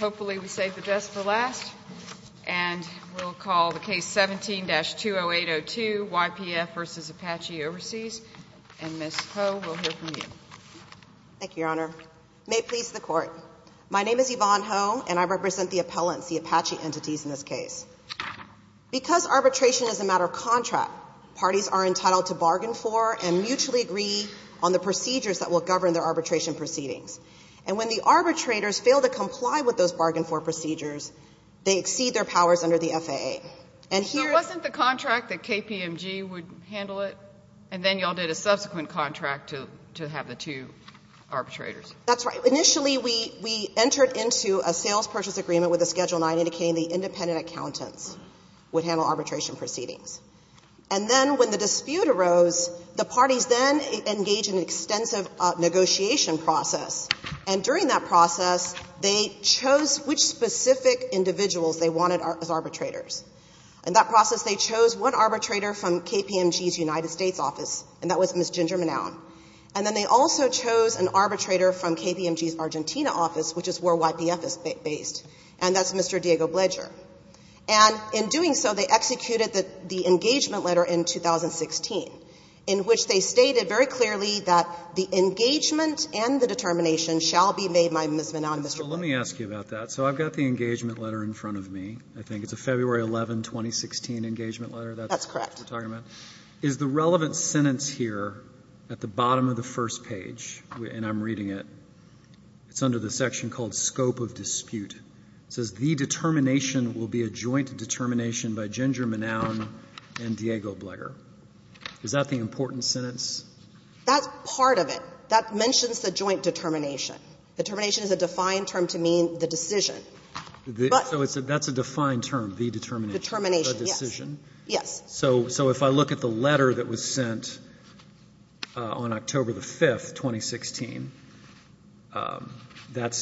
Hopefully we saved the best for last, and we'll call the case 17-20802, YPF v. Apache Overseas. And Ms. Ho, we'll hear from you. Thank you, Your Honor. May it please the Court. My name is Yvonne Ho, and I represent the appellants, the Apache entities in this case. Because arbitration is a matter of contract, parties are entitled to bargain for and mutually agree on the procedures that will govern their arbitration proceedings. And when the arbitrators fail to comply with those bargain-for procedures, they exceed their powers under the FAA. And here's — So it wasn't the contract that KPMG would handle it, and then you all did a subsequent contract to have the two arbitrators? That's right. Initially, we entered into a sales purchase agreement with the Schedule 9 indicating the independent accountants would handle arbitration proceedings. And then when the dispute arose, the parties then engaged in an extensive negotiation process. And during that process, they chose which specific individuals they wanted as arbitrators. In that process, they chose one arbitrator from KPMG's United States office, and that was Ms. Ginger Manown. And then they also chose an arbitrator from KPMG's Argentina office, which is where YPF is based, and that's Mr. Diego Bledger. And in doing so, they executed the engagement letter in 2016, in which they stated very clearly that the engagement and the determination shall be made by Ms. Manown and Mr. Bledger. So let me ask you about that. So I've got the engagement letter in front of me. I think it's a February 11, 2016 engagement letter. That's correct. Is the relevant sentence here at the bottom of the first page, and I'm reading it, it's under the section called scope of dispute. It says the determination will be a joint determination by Ginger Manown and Diego Bledger. Is that the important sentence? That's part of it. That mentions the joint determination. Determination is a defined term to mean the decision. So that's a defined term, the determination. Determination, yes. The decision. Yes. So if I look at the letter that was sent on October the 5th, 2016, that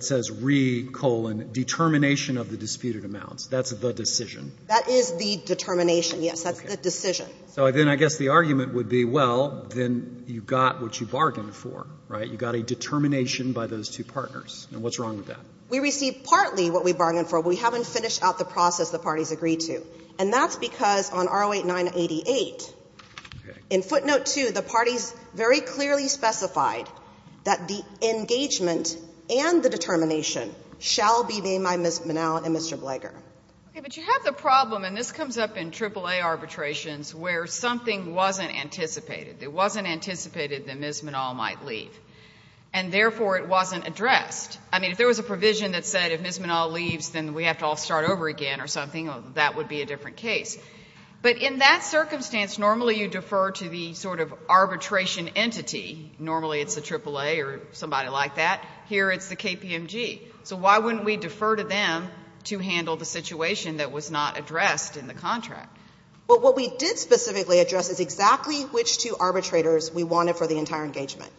says re, colon, determination of the disputed amounts. That's the decision. That is the determination, yes. That's the decision. So then I guess the argument would be, well, then you got what you bargained for, right? You got a determination by those two partners. And what's wrong with that? We received partly what we bargained for. We haven't finished out the process the parties agreed to. And that's because on R08988, in footnote 2, the parties very clearly specified that the engagement and the determination shall be made by Ms. Manown and Mr. Bledger. Okay. But you have the problem, and this comes up in AAA arbitrations, where something wasn't anticipated. It wasn't anticipated that Ms. Manown might leave. And therefore, it wasn't addressed. I mean, if there was a provision that said if Ms. Manown leaves, then we have to all make a different case. But in that circumstance, normally you defer to the sort of arbitration entity. Normally it's the AAA or somebody like that. Here it's the KPMG. So why wouldn't we defer to them to handle the situation that was not addressed in the contract? Well, what we did specifically address is exactly which two arbitrators we wanted for the entire engagement.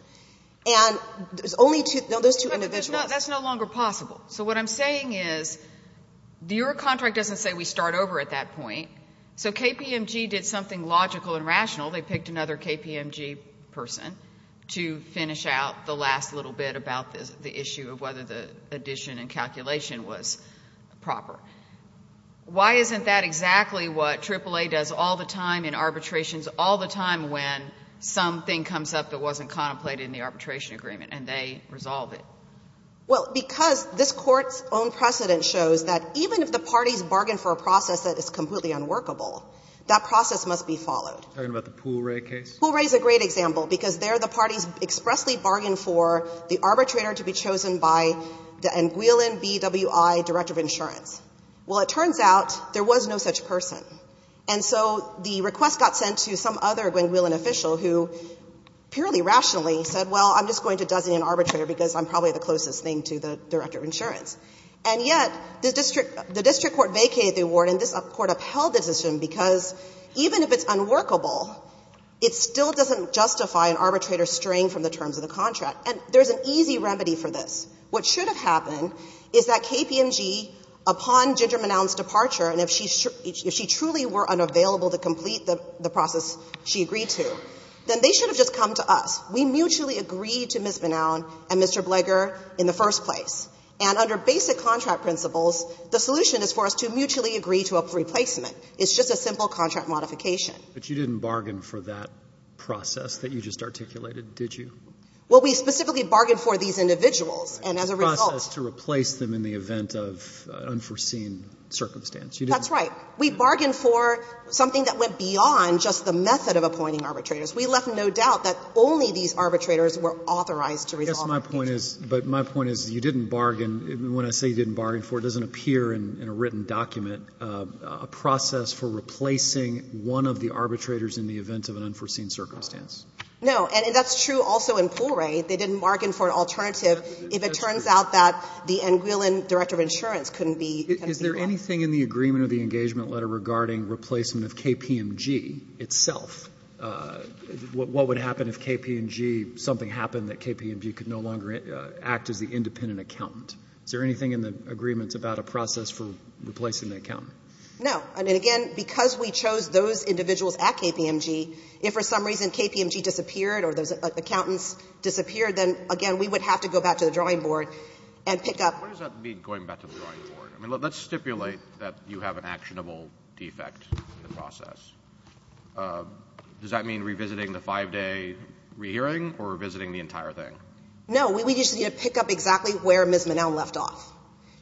And there's only two of those two individuals. That's no longer possible. So what I'm saying is your contract doesn't say we start over at that point. So KPMG did something logical and rational. They picked another KPMG person to finish out the last little bit about the issue of whether the addition and calculation was proper. Why isn't that exactly what AAA does all the time in arbitrations, all the time when something comes up that wasn't contemplated in the arbitration agreement and they resolve it? Well, because this Court's own precedent shows that even if the parties bargain for a process that is completely unworkable, that process must be followed. Talking about the Poole-Wray case? Poole-Wray is a great example because there the parties expressly bargained for the arbitrator to be chosen by the Guilin BWI director of insurance. Well, it turns out there was no such person. And so the request got sent to some other Guilin official who purely rationally said, well, I'm just going to dozen an arbitrator because I'm probably the closest thing to the director of insurance. And yet the district court vacated the award and this Court upheld the decision because even if it's unworkable, it still doesn't justify an arbitrator straying from the terms of the contract. And there's an easy remedy for this. What should have happened is that KPMG, upon Ginger Manown's departure, and if she truly were unavailable to complete the process she agreed to, then they should have just come to us. We mutually agreed to Ms. Manown and Mr. Bleger in the first place. And under basic contract principles, the solution is for us to mutually agree to a replacement. It's just a simple contract modification. But you didn't bargain for that process that you just articulated, did you? Well, we specifically bargained for these individuals. And as a result to replace them in the event of an unforeseen circumstance. That's right. We bargained for something that went beyond just the method of appointing arbitrators. We left no doubt that only these arbitrators were authorized to resolve the case. I guess my point is, but my point is you didn't bargain. When I say you didn't bargain for it, it doesn't appear in a written document a process for replacing one of the arbitrators in the event of an unforeseen circumstance. No. And that's true also in Pooray. They didn't bargain for an alternative if it turns out that the Anguillin Director of Insurance couldn't be involved. Is there anything in the agreement or the engagement letter regarding replacement of KPMG itself? What would happen if KPMG, something happened that KPMG could no longer act as the independent accountant? Is there anything in the agreement about a process for replacing the accountant? No. And again, because we chose those individuals at KPMG, if for some reason KPMG disappeared or those accountants disappeared, then, again, we would have to go back to the drawing board and pick up. What does that mean, going back to the drawing board? I mean, let's stipulate that you have an actionable defect in the process. Does that mean revisiting the five-day rehearing or revisiting the entire thing? No. We just need to pick up exactly where Ms. Monell left off.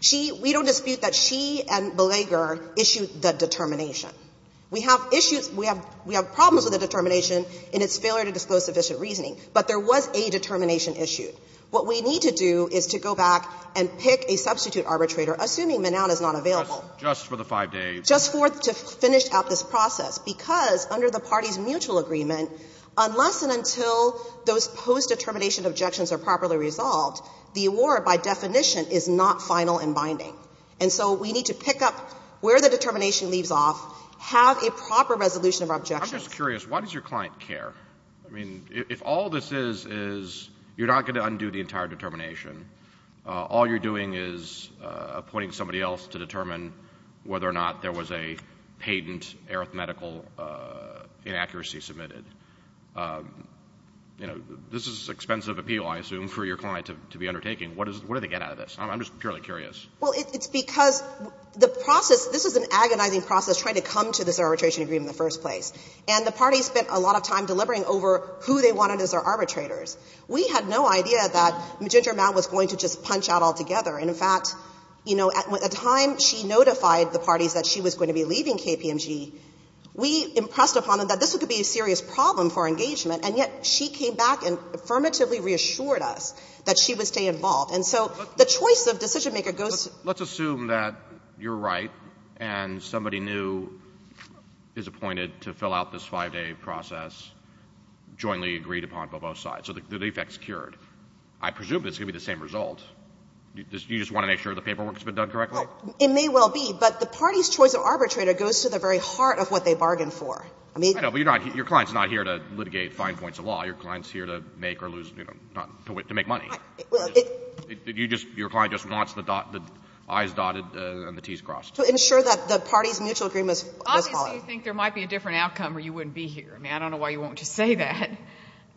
She — we don't dispute that she and Belaguer issued the determination. We have issues — we have problems with the determination in its failure to disclose sufficient reasoning, but there was a determination issued. What we need to do is to go back and pick a substitute arbitrator, assuming Monell is not available. Just for the five days. Just for — to finish out this process, because under the party's mutual agreement, unless and until those post-determination objections are properly resolved, the award by definition is not final and binding. And so we need to pick up where the determination leaves off, have a proper resolution of our objections. I'm just curious. Why does your client care? I mean, if all this is, is you're not going to undo the entire determination. All you're doing is appointing somebody else to determine whether or not there was a patent arithmetical inaccuracy submitted. You know, this is expensive appeal, I assume, for your client to be undertaking. What do they get out of this? I'm just purely curious. Well, it's because the process — this is an agonizing process trying to come to this arbitration agreement in the first place. And the party spent a lot of time deliberating over who they wanted as their arbitrators. We had no idea that Magenta Ramal was going to just punch out altogether. And in fact, you know, at the time she notified the parties that she was going to be leaving KPMG, we impressed upon them that this could be a serious problem for engagement, and yet she came back and affirmatively reassured us that she would stay involved. And so the choice of decisionmaker goes to — And somebody new is appointed to fill out this 5-day process, jointly agreed upon by both sides. So the defect's cured. I presume it's going to be the same result. You just want to make sure the paperwork's been done correctly? Well, it may well be. But the party's choice of arbitrator goes to the very heart of what they bargained for. I mean — I know, but you're not — your client's not here to litigate fine points of law. Your client's here to make or lose — you know, to make money. Well, it — You just — your client just wants the dot — the i's dotted and the t's crossed. To ensure that the party's mutual agreement is followed. Obviously, you think there might be a different outcome or you wouldn't be here. I mean, I don't know why you won't just say that.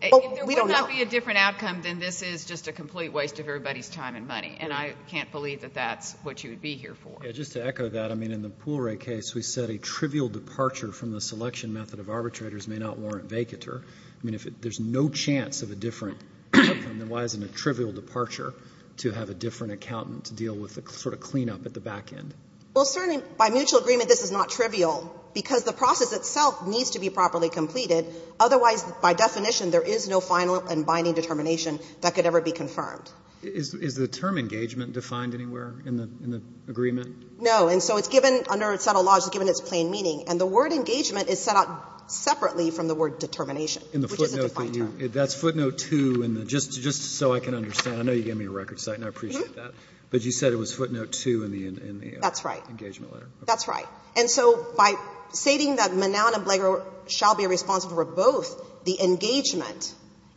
Well, we don't know. If there would not be a different outcome, then this is just a complete waste of everybody's time and money. And I can't believe that that's what you would be here for. Yeah. Just to echo that, I mean, in the Poole Ray case, we said a trivial departure from the selection method of arbitrators may not warrant vacatur. I mean, if there's no chance of a different outcome, then why isn't a trivial departure to have a different accountant to deal with the sort of cleanup at the back end? Well, certainly, by mutual agreement, this is not trivial, because the process itself needs to be properly completed. Otherwise, by definition, there is no final and binding determination that could ever be confirmed. Is the term engagement defined anywhere in the agreement? No. And so it's given — under subtle laws, it's given its plain meaning. And the word engagement is set out separately from the word determination, which is a defined term. In the footnote that you — that's footnote 2 in the — just so I can understand. I know you gave me a record site and I appreciate that. But you said it was footnote 2 in the — That's right. Engagement letter. That's right. And so by stating that Manown and Blago shall be responsible for both the engagement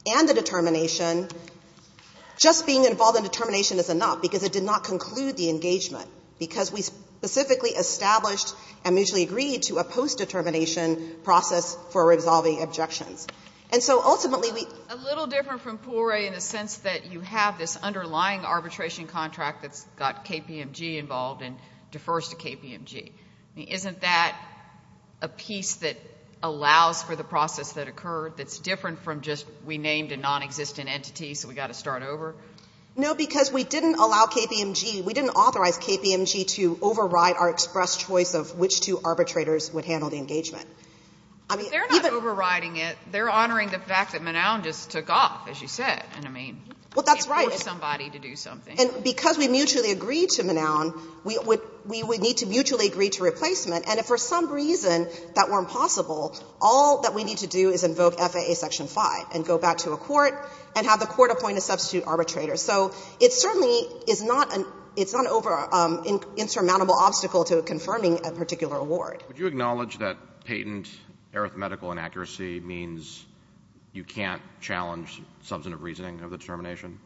and the determination, just being involved in determination is enough, because it did not conclude the engagement, because we specifically established and mutually agreed to a post-determination process for resolving objections. And so ultimately, we — A little different from Pouret in the sense that you have this underlying arbitration contract that's got KPMG involved and defers to KPMG. I mean, isn't that a piece that allows for the process that occurred that's different from just we named a nonexistent entity so we've got to start over? No, because we didn't allow KPMG — we didn't authorize KPMG to override our express choice of which two arbitrators would handle the engagement. I mean, even — But they're not overriding it. They're honoring the fact that Manown just took off, as you said. And, I mean — Well, that's right. It took somebody to do something. And because we mutually agreed to Manown, we would — we would need to mutually agree to replacement. And if for some reason that weren't possible, all that we need to do is invoke FAA Section 5 and go back to a court and have the court appoint a substitute arbitrator. So it certainly is not an — it's not an insurmountable obstacle to confirming a particular award. Would you acknowledge that patent arithmetical inaccuracy means you can't challenge substantive reasoning of the determination?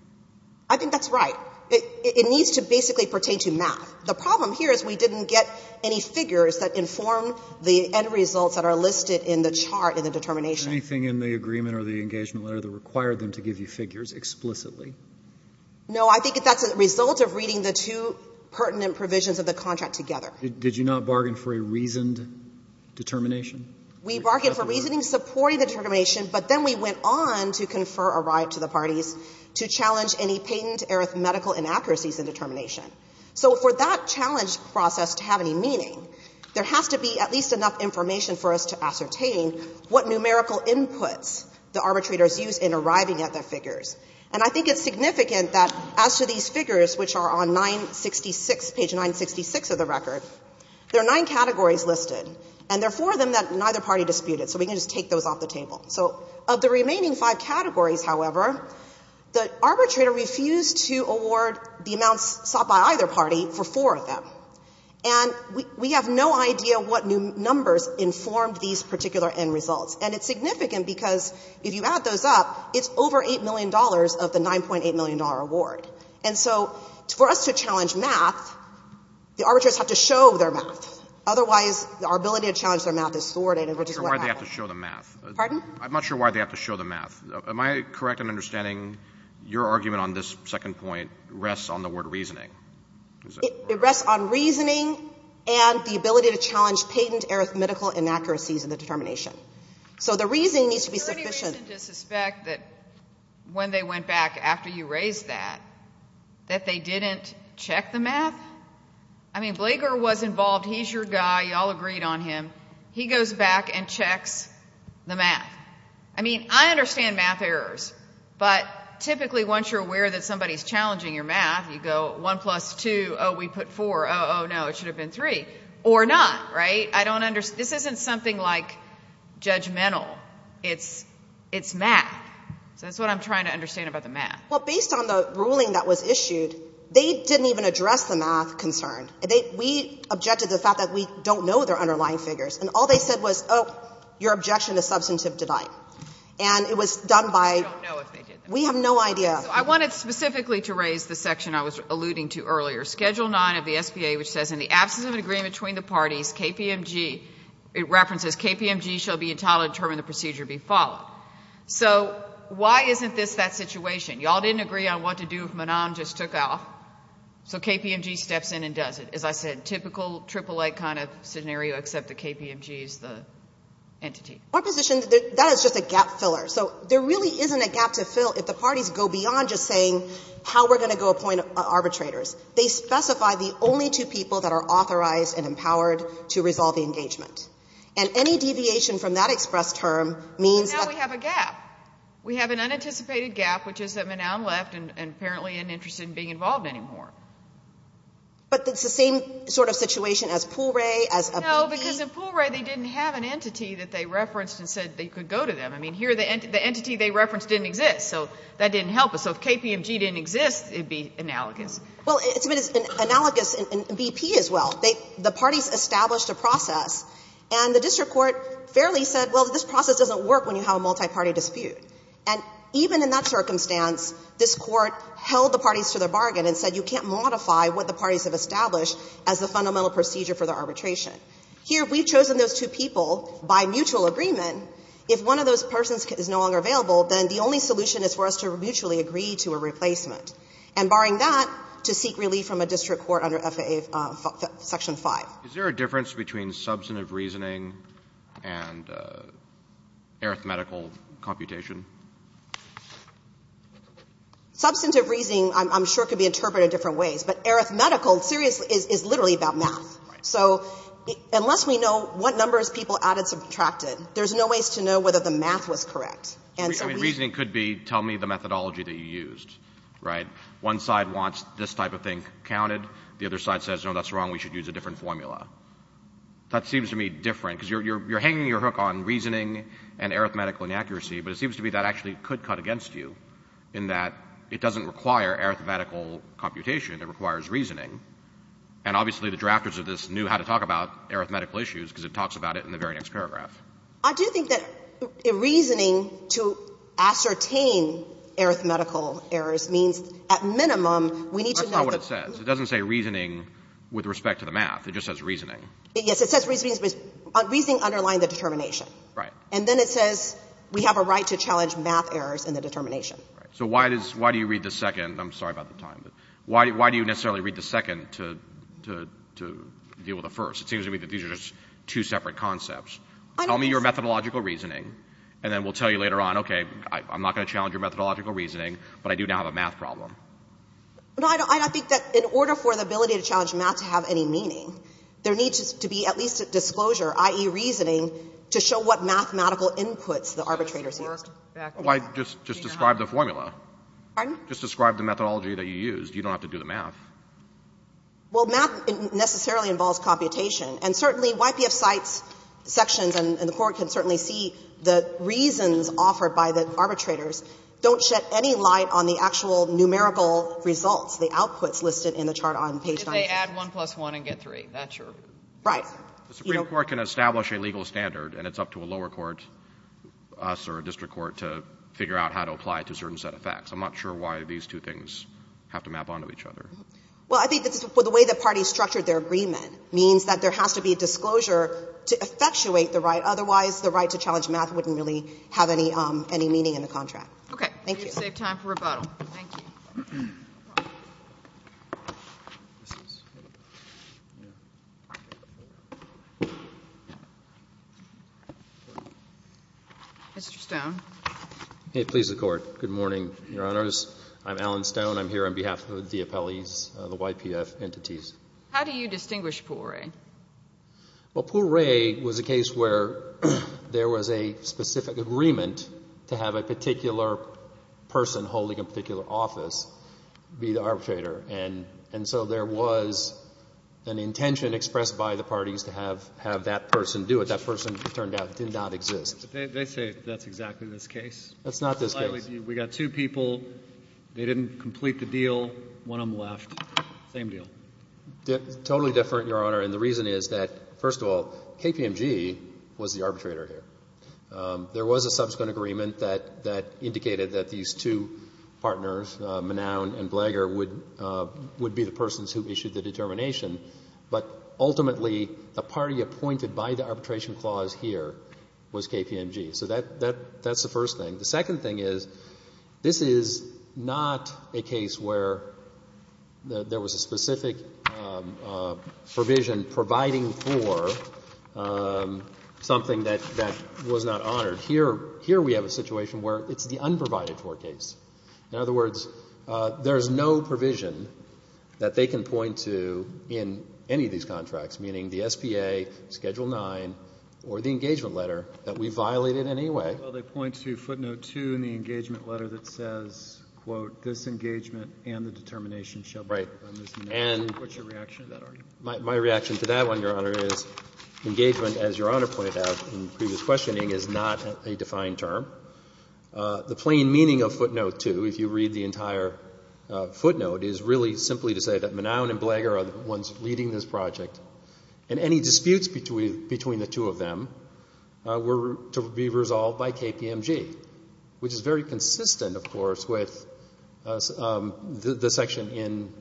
I think that's right. It needs to basically pertain to math. The problem here is we didn't get any figures that inform the end results that are listed in the chart in the determination. Anything in the agreement or the engagement letter that required them to give you figures explicitly? No. I think that's a result of reading the two pertinent provisions of the contract together. Did you not bargain for a reasoned determination? We bargained for reasoning supporting the determination, but then we went on to confer a right to the parties to challenge any patent arithmetical inaccuracies in determination. So for that challenge process to have any meaning, there has to be at least enough information for us to ascertain what numerical inputs the arbitrators use in arriving at their figures. And I think it's significant that as to these figures, which are on page 966 of the record, there are nine categories listed, and there are four of them that neither party disputed. So we can just take those off the table. So of the remaining five categories, however, the arbitrator refused to award the amounts sought by either party for four of them. And we have no idea what numbers informed these particular end results. And it's significant because if you add those up, it's over $8 million of the $9.8 million award. And so for us to challenge math, the arbitrators have to show their math. Otherwise, our ability to challenge their math is thwarted, which is what happened. I'm not sure why they have to show the math. Pardon? I'm not sure why they have to show the math. Am I correct in understanding your argument on this second point rests on the word reasoning? It rests on reasoning and the ability to challenge patent arithmetical inaccuracies in the determination. So the reason needs to be sufficient. Is there any reason to suspect that when they went back after you raised that, that they didn't check the math? I mean, Blager was involved. He's your guy. You all agreed on him. He goes back and checks the math. I mean, I understand math errors. But typically, once you're aware that somebody's challenging your math, you go one plus two, oh, we put four. Oh, no, it should have been three. Or not, right? I don't understand. This isn't something like judgmental. It's math. So that's what I'm trying to understand about the math. Well, based on the ruling that was issued, they didn't even address the math concern. We objected to the fact that we don't know their underlying figures. And all they said was, oh, your objection is substantive tonight. And it was done by we have no idea. So I wanted specifically to raise the section I was alluding to earlier, Schedule 9 of the SBA, which says in the absence of an agreement between the parties, KPMG, it references KPMG shall be entitled to determine the procedure be followed. So why isn't this that situation? You all didn't agree on what to do if Menon just took off, so KPMG steps in and does it. As I said, typical AAA kind of scenario except that KPMG is the entity. Our position, that is just a gap filler. So there really isn't a gap to fill if the parties go beyond just saying how we're going to go appoint arbitrators. They specify the only two people that are authorized and empowered to resolve the engagement. And any deviation from that express term means that we have a gap. We have an unanticipated gap, which is that Menon left and apparently isn't interested in being involved anymore. But it's the same sort of situation as Poole Ray, as a BP? No, because in Poole Ray they didn't have an entity that they referenced and said they could go to them. I mean, here the entity they referenced didn't exist, so that didn't help us. So if KPMG didn't exist, it would be analogous. Well, it's been analogous in BP as well. The parties established a process, and the district court fairly said, well, this process doesn't work when you have a multiparty dispute. And even in that circumstance, this Court held the parties to their bargain and said you can't modify what the parties have established as the fundamental procedure for the arbitration. Here we've chosen those two people by mutual agreement. If one of those persons is no longer available, then the only solution is for us to mutually agree to a replacement. And barring that, to seek relief from a district court under FAA Section 5. Is there a difference between substantive reasoning and arithmetical computation? Substantive reasoning, I'm sure, could be interpreted in different ways. But arithmetical, seriously, is literally about math. So unless we know what numbers people added, subtracted, there's no ways to know whether the math was correct. And so we need to know. I mean, reasoning could be tell me the methodology that you used, right? One side wants this type of thing counted. The other side says, no, that's wrong. We should use a different formula. That seems to me different, because you're hanging your hook on reasoning and arithmetical inaccuracy. But it seems to me that actually could cut against you, in that it doesn't require arithmetical computation. It requires reasoning. And obviously the drafters of this knew how to talk about arithmetical issues, because it talks about it in the very next paragraph. I do think that reasoning to ascertain arithmetical errors means at minimum, we need to know the proof. That's not what it says. It doesn't say reasoning with respect to the math. It just says reasoning. Yes. It says reasoning underlines the determination. Right. And then it says we have a right to challenge math errors in the determination. Right. So why do you read the second? I'm sorry about the time. Why do you necessarily read the second to deal with the first? It seems to me that these are just two separate concepts. Tell me your methodological reasoning, and then we'll tell you later on, okay, I'm not going to challenge your methodological reasoning, but I do now have a math problem. No, I don't think that in order for the ability to challenge math to have any meaning, there needs to be at least a disclosure, i.e., reasoning, to show what mathematical inputs the arbitrators used. Why just describe the formula? Pardon? Just describe the methodology that you used. You don't have to do the math. Well, math necessarily involves computation. And certainly, YPF cites sections, and the Court can certainly see the reasons offered by the arbitrators don't shed any light on the actual numerical results, the outputs listed in the chart on page 96. If they add 1 plus 1 and get 3, that's your reason. Right. The Supreme Court can establish a legal standard, and it's up to a lower court, us or a district court, to figure out how to apply it to a certain set of facts. I'm not sure why these two things have to map onto each other. Well, I think the way the parties structured their agreement means that there has to be a disclosure to effectuate the right. Otherwise, the right to challenge math wouldn't really have any meaning in the contract. Thank you. You saved time for rebuttal. Thank you. Mr. Stone. Please, the Court. Good morning, Your Honors. I'm Alan Stone. I'm here on behalf of the appellees, the YPF entities. How do you distinguish Poiret? Well, Poiret was a case where there was a specific agreement to have a particular person holding a particular office be the arbitrator. And so there was an intention expressed by the parties to have that person do it. That person, it turned out, did not exist. They say that's exactly this case. That's not this case. We got two people. They didn't complete the deal. One of them left. Same deal. Totally different, Your Honor. And the reason is that, first of all, KPMG was the arbitrator here. There was a subsequent agreement that indicated that these two partners, Manown and Blager, would be the persons who issued the determination. But ultimately, the party appointed by the arbitration clause here was KPMG. So that's the first thing. The second thing is, this is not a case where there was a specific provision providing for something that was not honored. Here we have a situation where it's the unprovided-for case. In other words, there is no provision that they can point to in any of these contracts, meaning the SPA, Schedule 9, or the engagement letter that we violated in any way. Well, they point to footnote 2 in the engagement letter that says, quote, this engagement and the determination shall be done in this manner. Right. And what's your reaction to that argument? My reaction to that one, Your Honor, is engagement, as Your Honor pointed out in previous questioning, is not a defined term. The plain meaning of footnote 2, if you read the entire footnote, is really simply to say that Manown and Blager are the ones leading this project, and any disputes between the two of them were to be resolved by KPMG, which is very consistent, of course, with the section in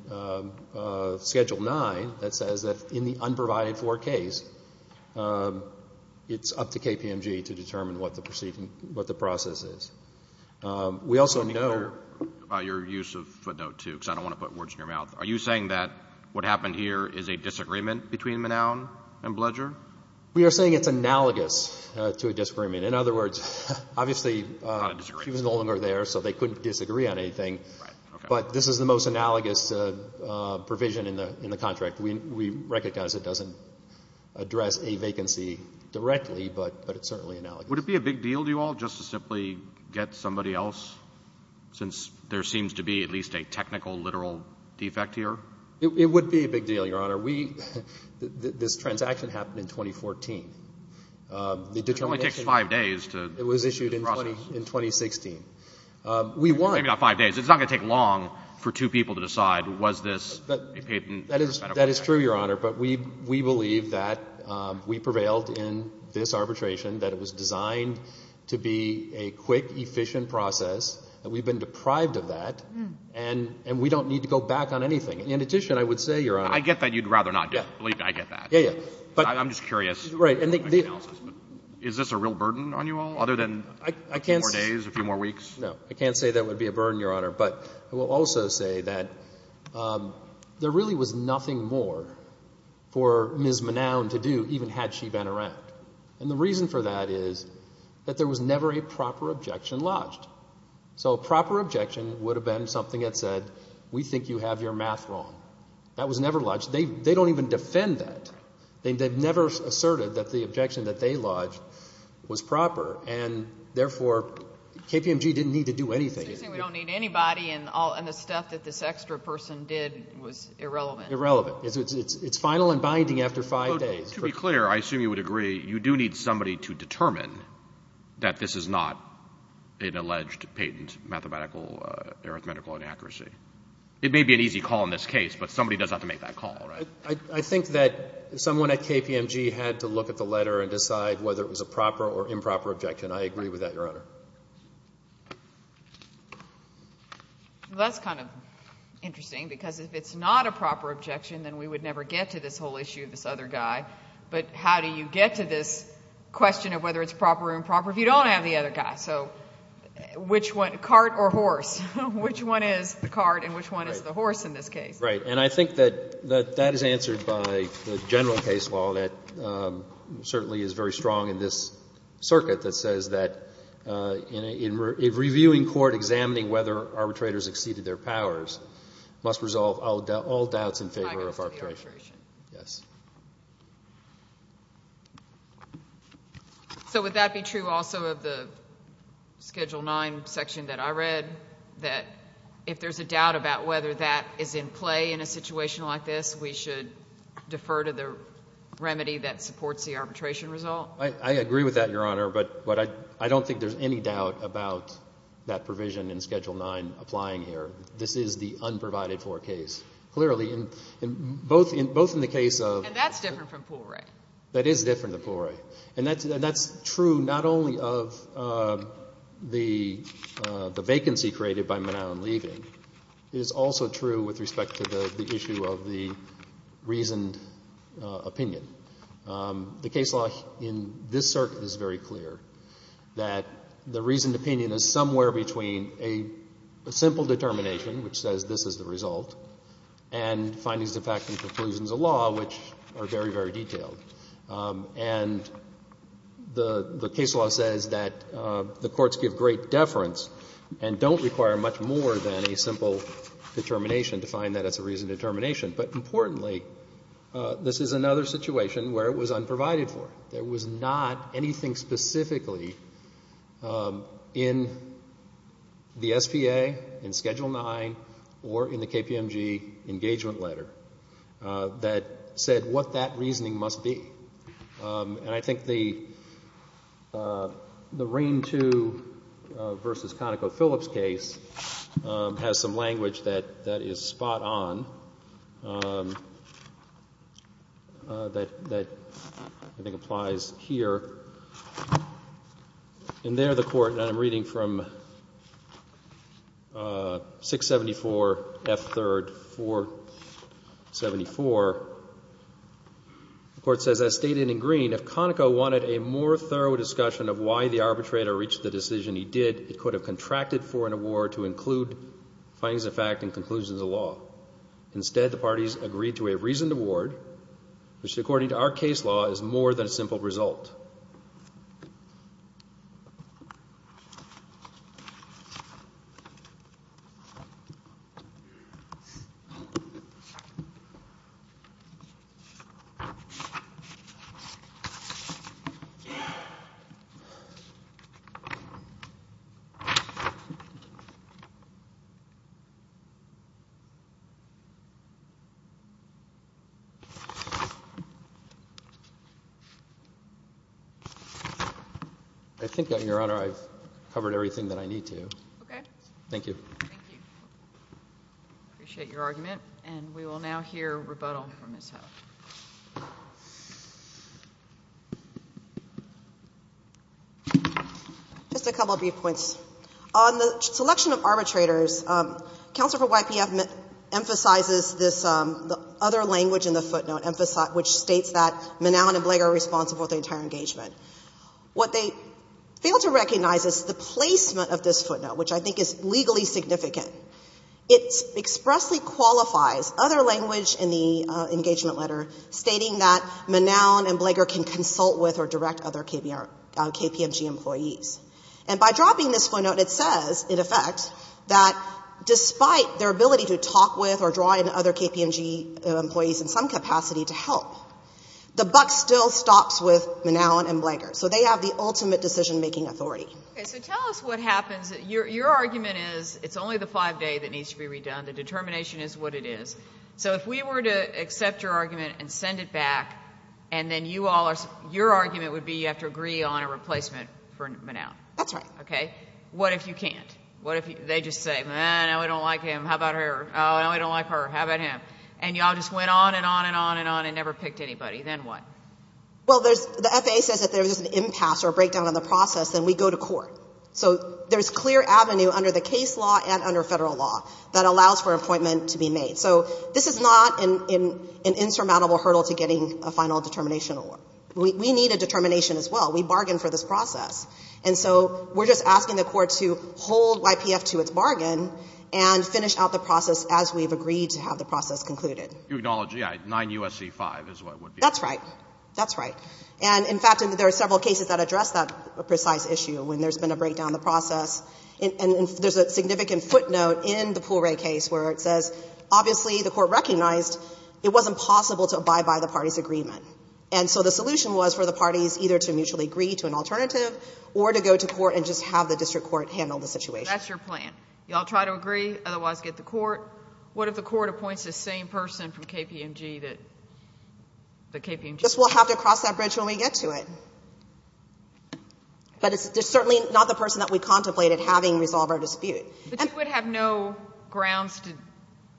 Schedule 9 that says that in the unprovided-for case, it's up to KPMG to determine what the process is. We also know by your use of footnote 2, because I don't want to put words in your mouth, are you saying that what happened here is a disagreement between Manown and Blager? We are saying it's analogous to a disagreement. In other words, obviously, she was no longer there, so they couldn't disagree on anything, but this is the most analogous provision in the contract. We recognize it doesn't address a vacancy directly, but it's certainly analogous. Would it be a big deal to you all just to simply get somebody else, since there seems to be at least a technical, literal defect here? It would be a big deal, Your Honor. This transaction happened in 2014. It only takes five days to process. It was issued in 2016. We won. Maybe not five days. It's not going to take long for two people to decide, was this a patent? That is true, Your Honor, but we believe that we prevailed in this arbitration, that it was designed to be a quick, efficient process, and we've been deprived of that, and we don't need to go back on anything. In addition, I would say, Your Honor. I get that you'd rather not do it. I get that. I'm just curious. Is this a real burden on you all, other than a few more days, a few more weeks? No. I can't say that would be a burden, Your Honor. But I will also say that there really was nothing more for Ms. Manown to do, even had she been around. And the reason for that is that there was never a proper objection lodged. So a proper objection would have been something that said, we think you have your math wrong. That was never lodged. They don't even defend that. They've never asserted that the objection that they lodged was proper, and therefore KPMG didn't need to do anything. We don't need anybody, and the stuff that this extra person did was irrelevant. Irrelevant. It's final and binding after five days. To be clear, I assume you would agree you do need somebody to determine that this is not an alleged patent mathematical, arithmetical inaccuracy. It may be an easy call in this case, but somebody does have to make that call. I think that someone at KPMG had to look at the letter and decide whether it was a proper or improper objection. I agree with that, Your Honor. Well, that's kind of interesting because if it's not a proper objection, then we would never get to this whole issue of this other guy. But how do you get to this question of whether it's proper or improper if you don't have the other guy? So cart or horse? Which one is the cart and which one is the horse in this case? Right. And I think that that is answered by the general case law that certainly is very strong in this circuit that says that in reviewing court, examining whether arbitrators exceeded their powers must resolve all doubts in favor of arbitration. I vote for the arbitration. Yes. So would that be true also of the Schedule IX section that I read, that if there's a doubt about whether that is in play in a situation like this, we should defer to the remedy that supports the arbitration result? I agree with that, Your Honor, but I don't think there's any doubt about that provision in Schedule IX applying here. This is the unprovided for case. Clearly, both in the case of — And that's different from Poole Ray. That is different than Poole Ray. And that's true not only of the vacancy created by Manow and Levy. It is also true with respect to the issue of the reasoned opinion. The case law in this circuit is very clear that the reasoned opinion is somewhere between a simple determination, which says this is the result, and findings of fact and conclusions of law, which are very, very detailed. And the case law says that the courts give great deference and don't require much more than a simple determination to find that it's a reasoned determination. But importantly, this is another situation where it was unprovided for. There was not anything specifically in the SPA, in Schedule IX, or in the KPMG engagement letter that said what that reasoning must be. And I think the Rain II v. ConocoPhillips case has some language that is spot on that I think applies here. And there the court, and I'm reading from 674 F. 3rd, 474. The court says, as stated in green, if Conoco wanted a more thorough discussion of why the arbitrator reached the decision he did, it could have contracted for an award to include findings of fact and conclusions of law. Instead, the parties agreed to a reasoned award, which, according to our case law, is more than a simple result. I think, Your Honor, I've covered everything that I need to. Okay. Thank you. Thank you. I appreciate your argument. And we will now hear rebuttal from Ms. Ho. Just a couple of brief points. On the selection of arbitrators, counsel for YPF emphasizes this other language in the footnotes. What they fail to recognize is the placement of this footnote, which I think is legally significant. It expressly qualifies other language in the engagement letter stating that Manown and Blager can consult with or direct other KPMG employees. And by dropping this footnote, it says, in effect, that despite their ability to talk with or draw in other KPMG employees in some capacity to help, the buck still stops with Manown and Blager. So they have the ultimate decision-making authority. Okay. So tell us what happens. Your argument is it's only the five-day that needs to be redone. The determination is what it is. So if we were to accept your argument and send it back, and then your argument would be you have to agree on a replacement for Manown. That's right. Okay. What if you can't? They just say, no, we don't like him. How about her? Oh, no, we don't like her. How about him? And you all just went on and on and on and on and never picked anybody. Then what? Well, the FAA says if there's an impasse or a breakdown in the process, then we go to court. So there's clear avenue under the case law and under federal law that allows for an appointment to be made. So this is not an insurmountable hurdle to getting a final determination award. We need a determination as well. We bargained for this process. And so we're just asking the court to hold YPF to its bargain and finish out the process as we've agreed to have the process concluded. You acknowledge, yeah, 9 U.S.C. 5 is what it would be. That's right. That's right. And, in fact, there are several cases that address that precise issue when there's been a breakdown in the process. And there's a significant footnote in the Poole Ray case where it says obviously the court recognized it wasn't possible to abide by the party's agreement. And so the solution was for the parties either to mutually agree to an alternative or to go to court and just have the district court handle the situation. That's your plan. You all try to agree, otherwise get the court. What if the court appoints the same person from KPMG that the KPMG? We'll have to cross that bridge when we get to it. But it's certainly not the person that we contemplated having resolve our dispute. But you would have no grounds to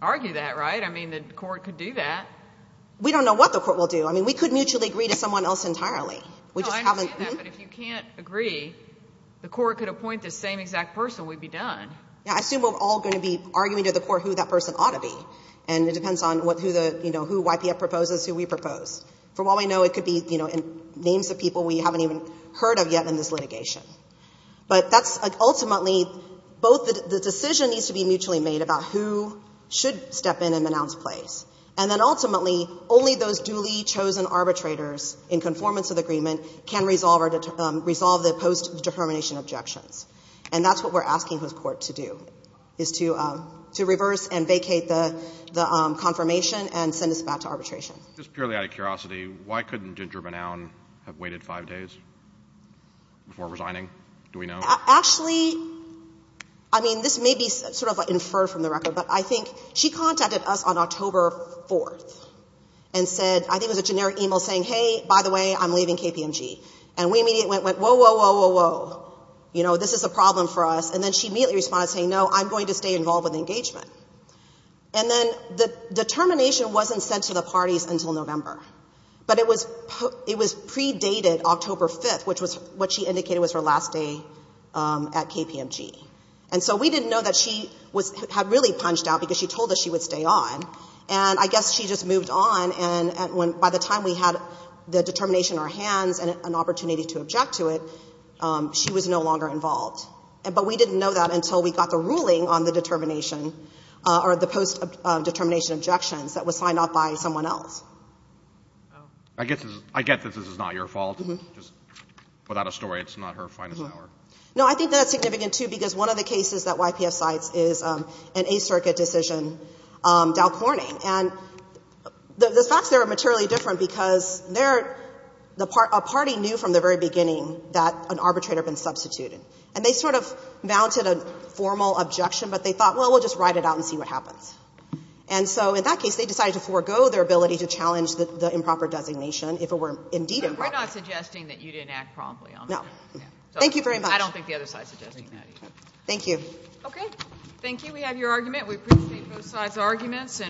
argue that, right? I mean, the court could do that. We don't know what the court will do. I mean, we could mutually agree to someone else entirely. No, I understand that. But if you can't agree, the court could appoint the same exact person. And that's how we'd be done. Yeah, I assume we're all going to be arguing to the court who that person ought to be. And it depends on who the, you know, who YPF proposes, who we propose. For what we know, it could be, you know, names of people we haven't even heard of yet in this litigation. But that's ultimately both the decision needs to be mutually made about who should step in and announce plays. And then ultimately, only those duly chosen arbitrators in conformance to the agreement can resolve the post-determination objections. And that's what we're asking this court to do, is to reverse and vacate the confirmation and send us back to arbitration. Just purely out of curiosity, why couldn't Ginger Benown have waited five days before resigning? Do we know? Actually, I mean, this may be sort of inferred from the record. But I think she contacted us on October 4th and said, I think it was a generic email saying, hey, by the way, I'm leaving KPMG. And we immediately went, whoa, whoa, whoa, whoa, whoa. You know, this is a problem for us. And then she immediately responded saying, no, I'm going to stay involved with the engagement. And then the determination wasn't sent to the parties until November. But it was predated October 5th, which was what she indicated was her last day at KPMG. And so we didn't know that she had really punched out because she told us she would stay on. And I guess she just moved on. And by the time we had the determination in our hands and an opportunity to sign off, she was no longer involved. But we didn't know that until we got the ruling on the determination or the post determination objections that was signed off by someone else. I get that this is not your fault. Just without a story, it's not her finest hour. No, I think that's significant, too, because one of the cases that YPF cites is an Eighth Circuit decision, Dow Corning. And the facts there are materially different because a party knew from the very And they sort of mounted a formal objection, but they thought, well, we'll just ride it out and see what happens. And so in that case, they decided to forego their ability to challenge the improper designation if it were indeed improper. We're not suggesting that you didn't act promptly on that. No. Thank you very much. I don't think the other side is suggesting that either. Thank you. Okay. Thank you. We have your argument. We appreciate both sides' arguments.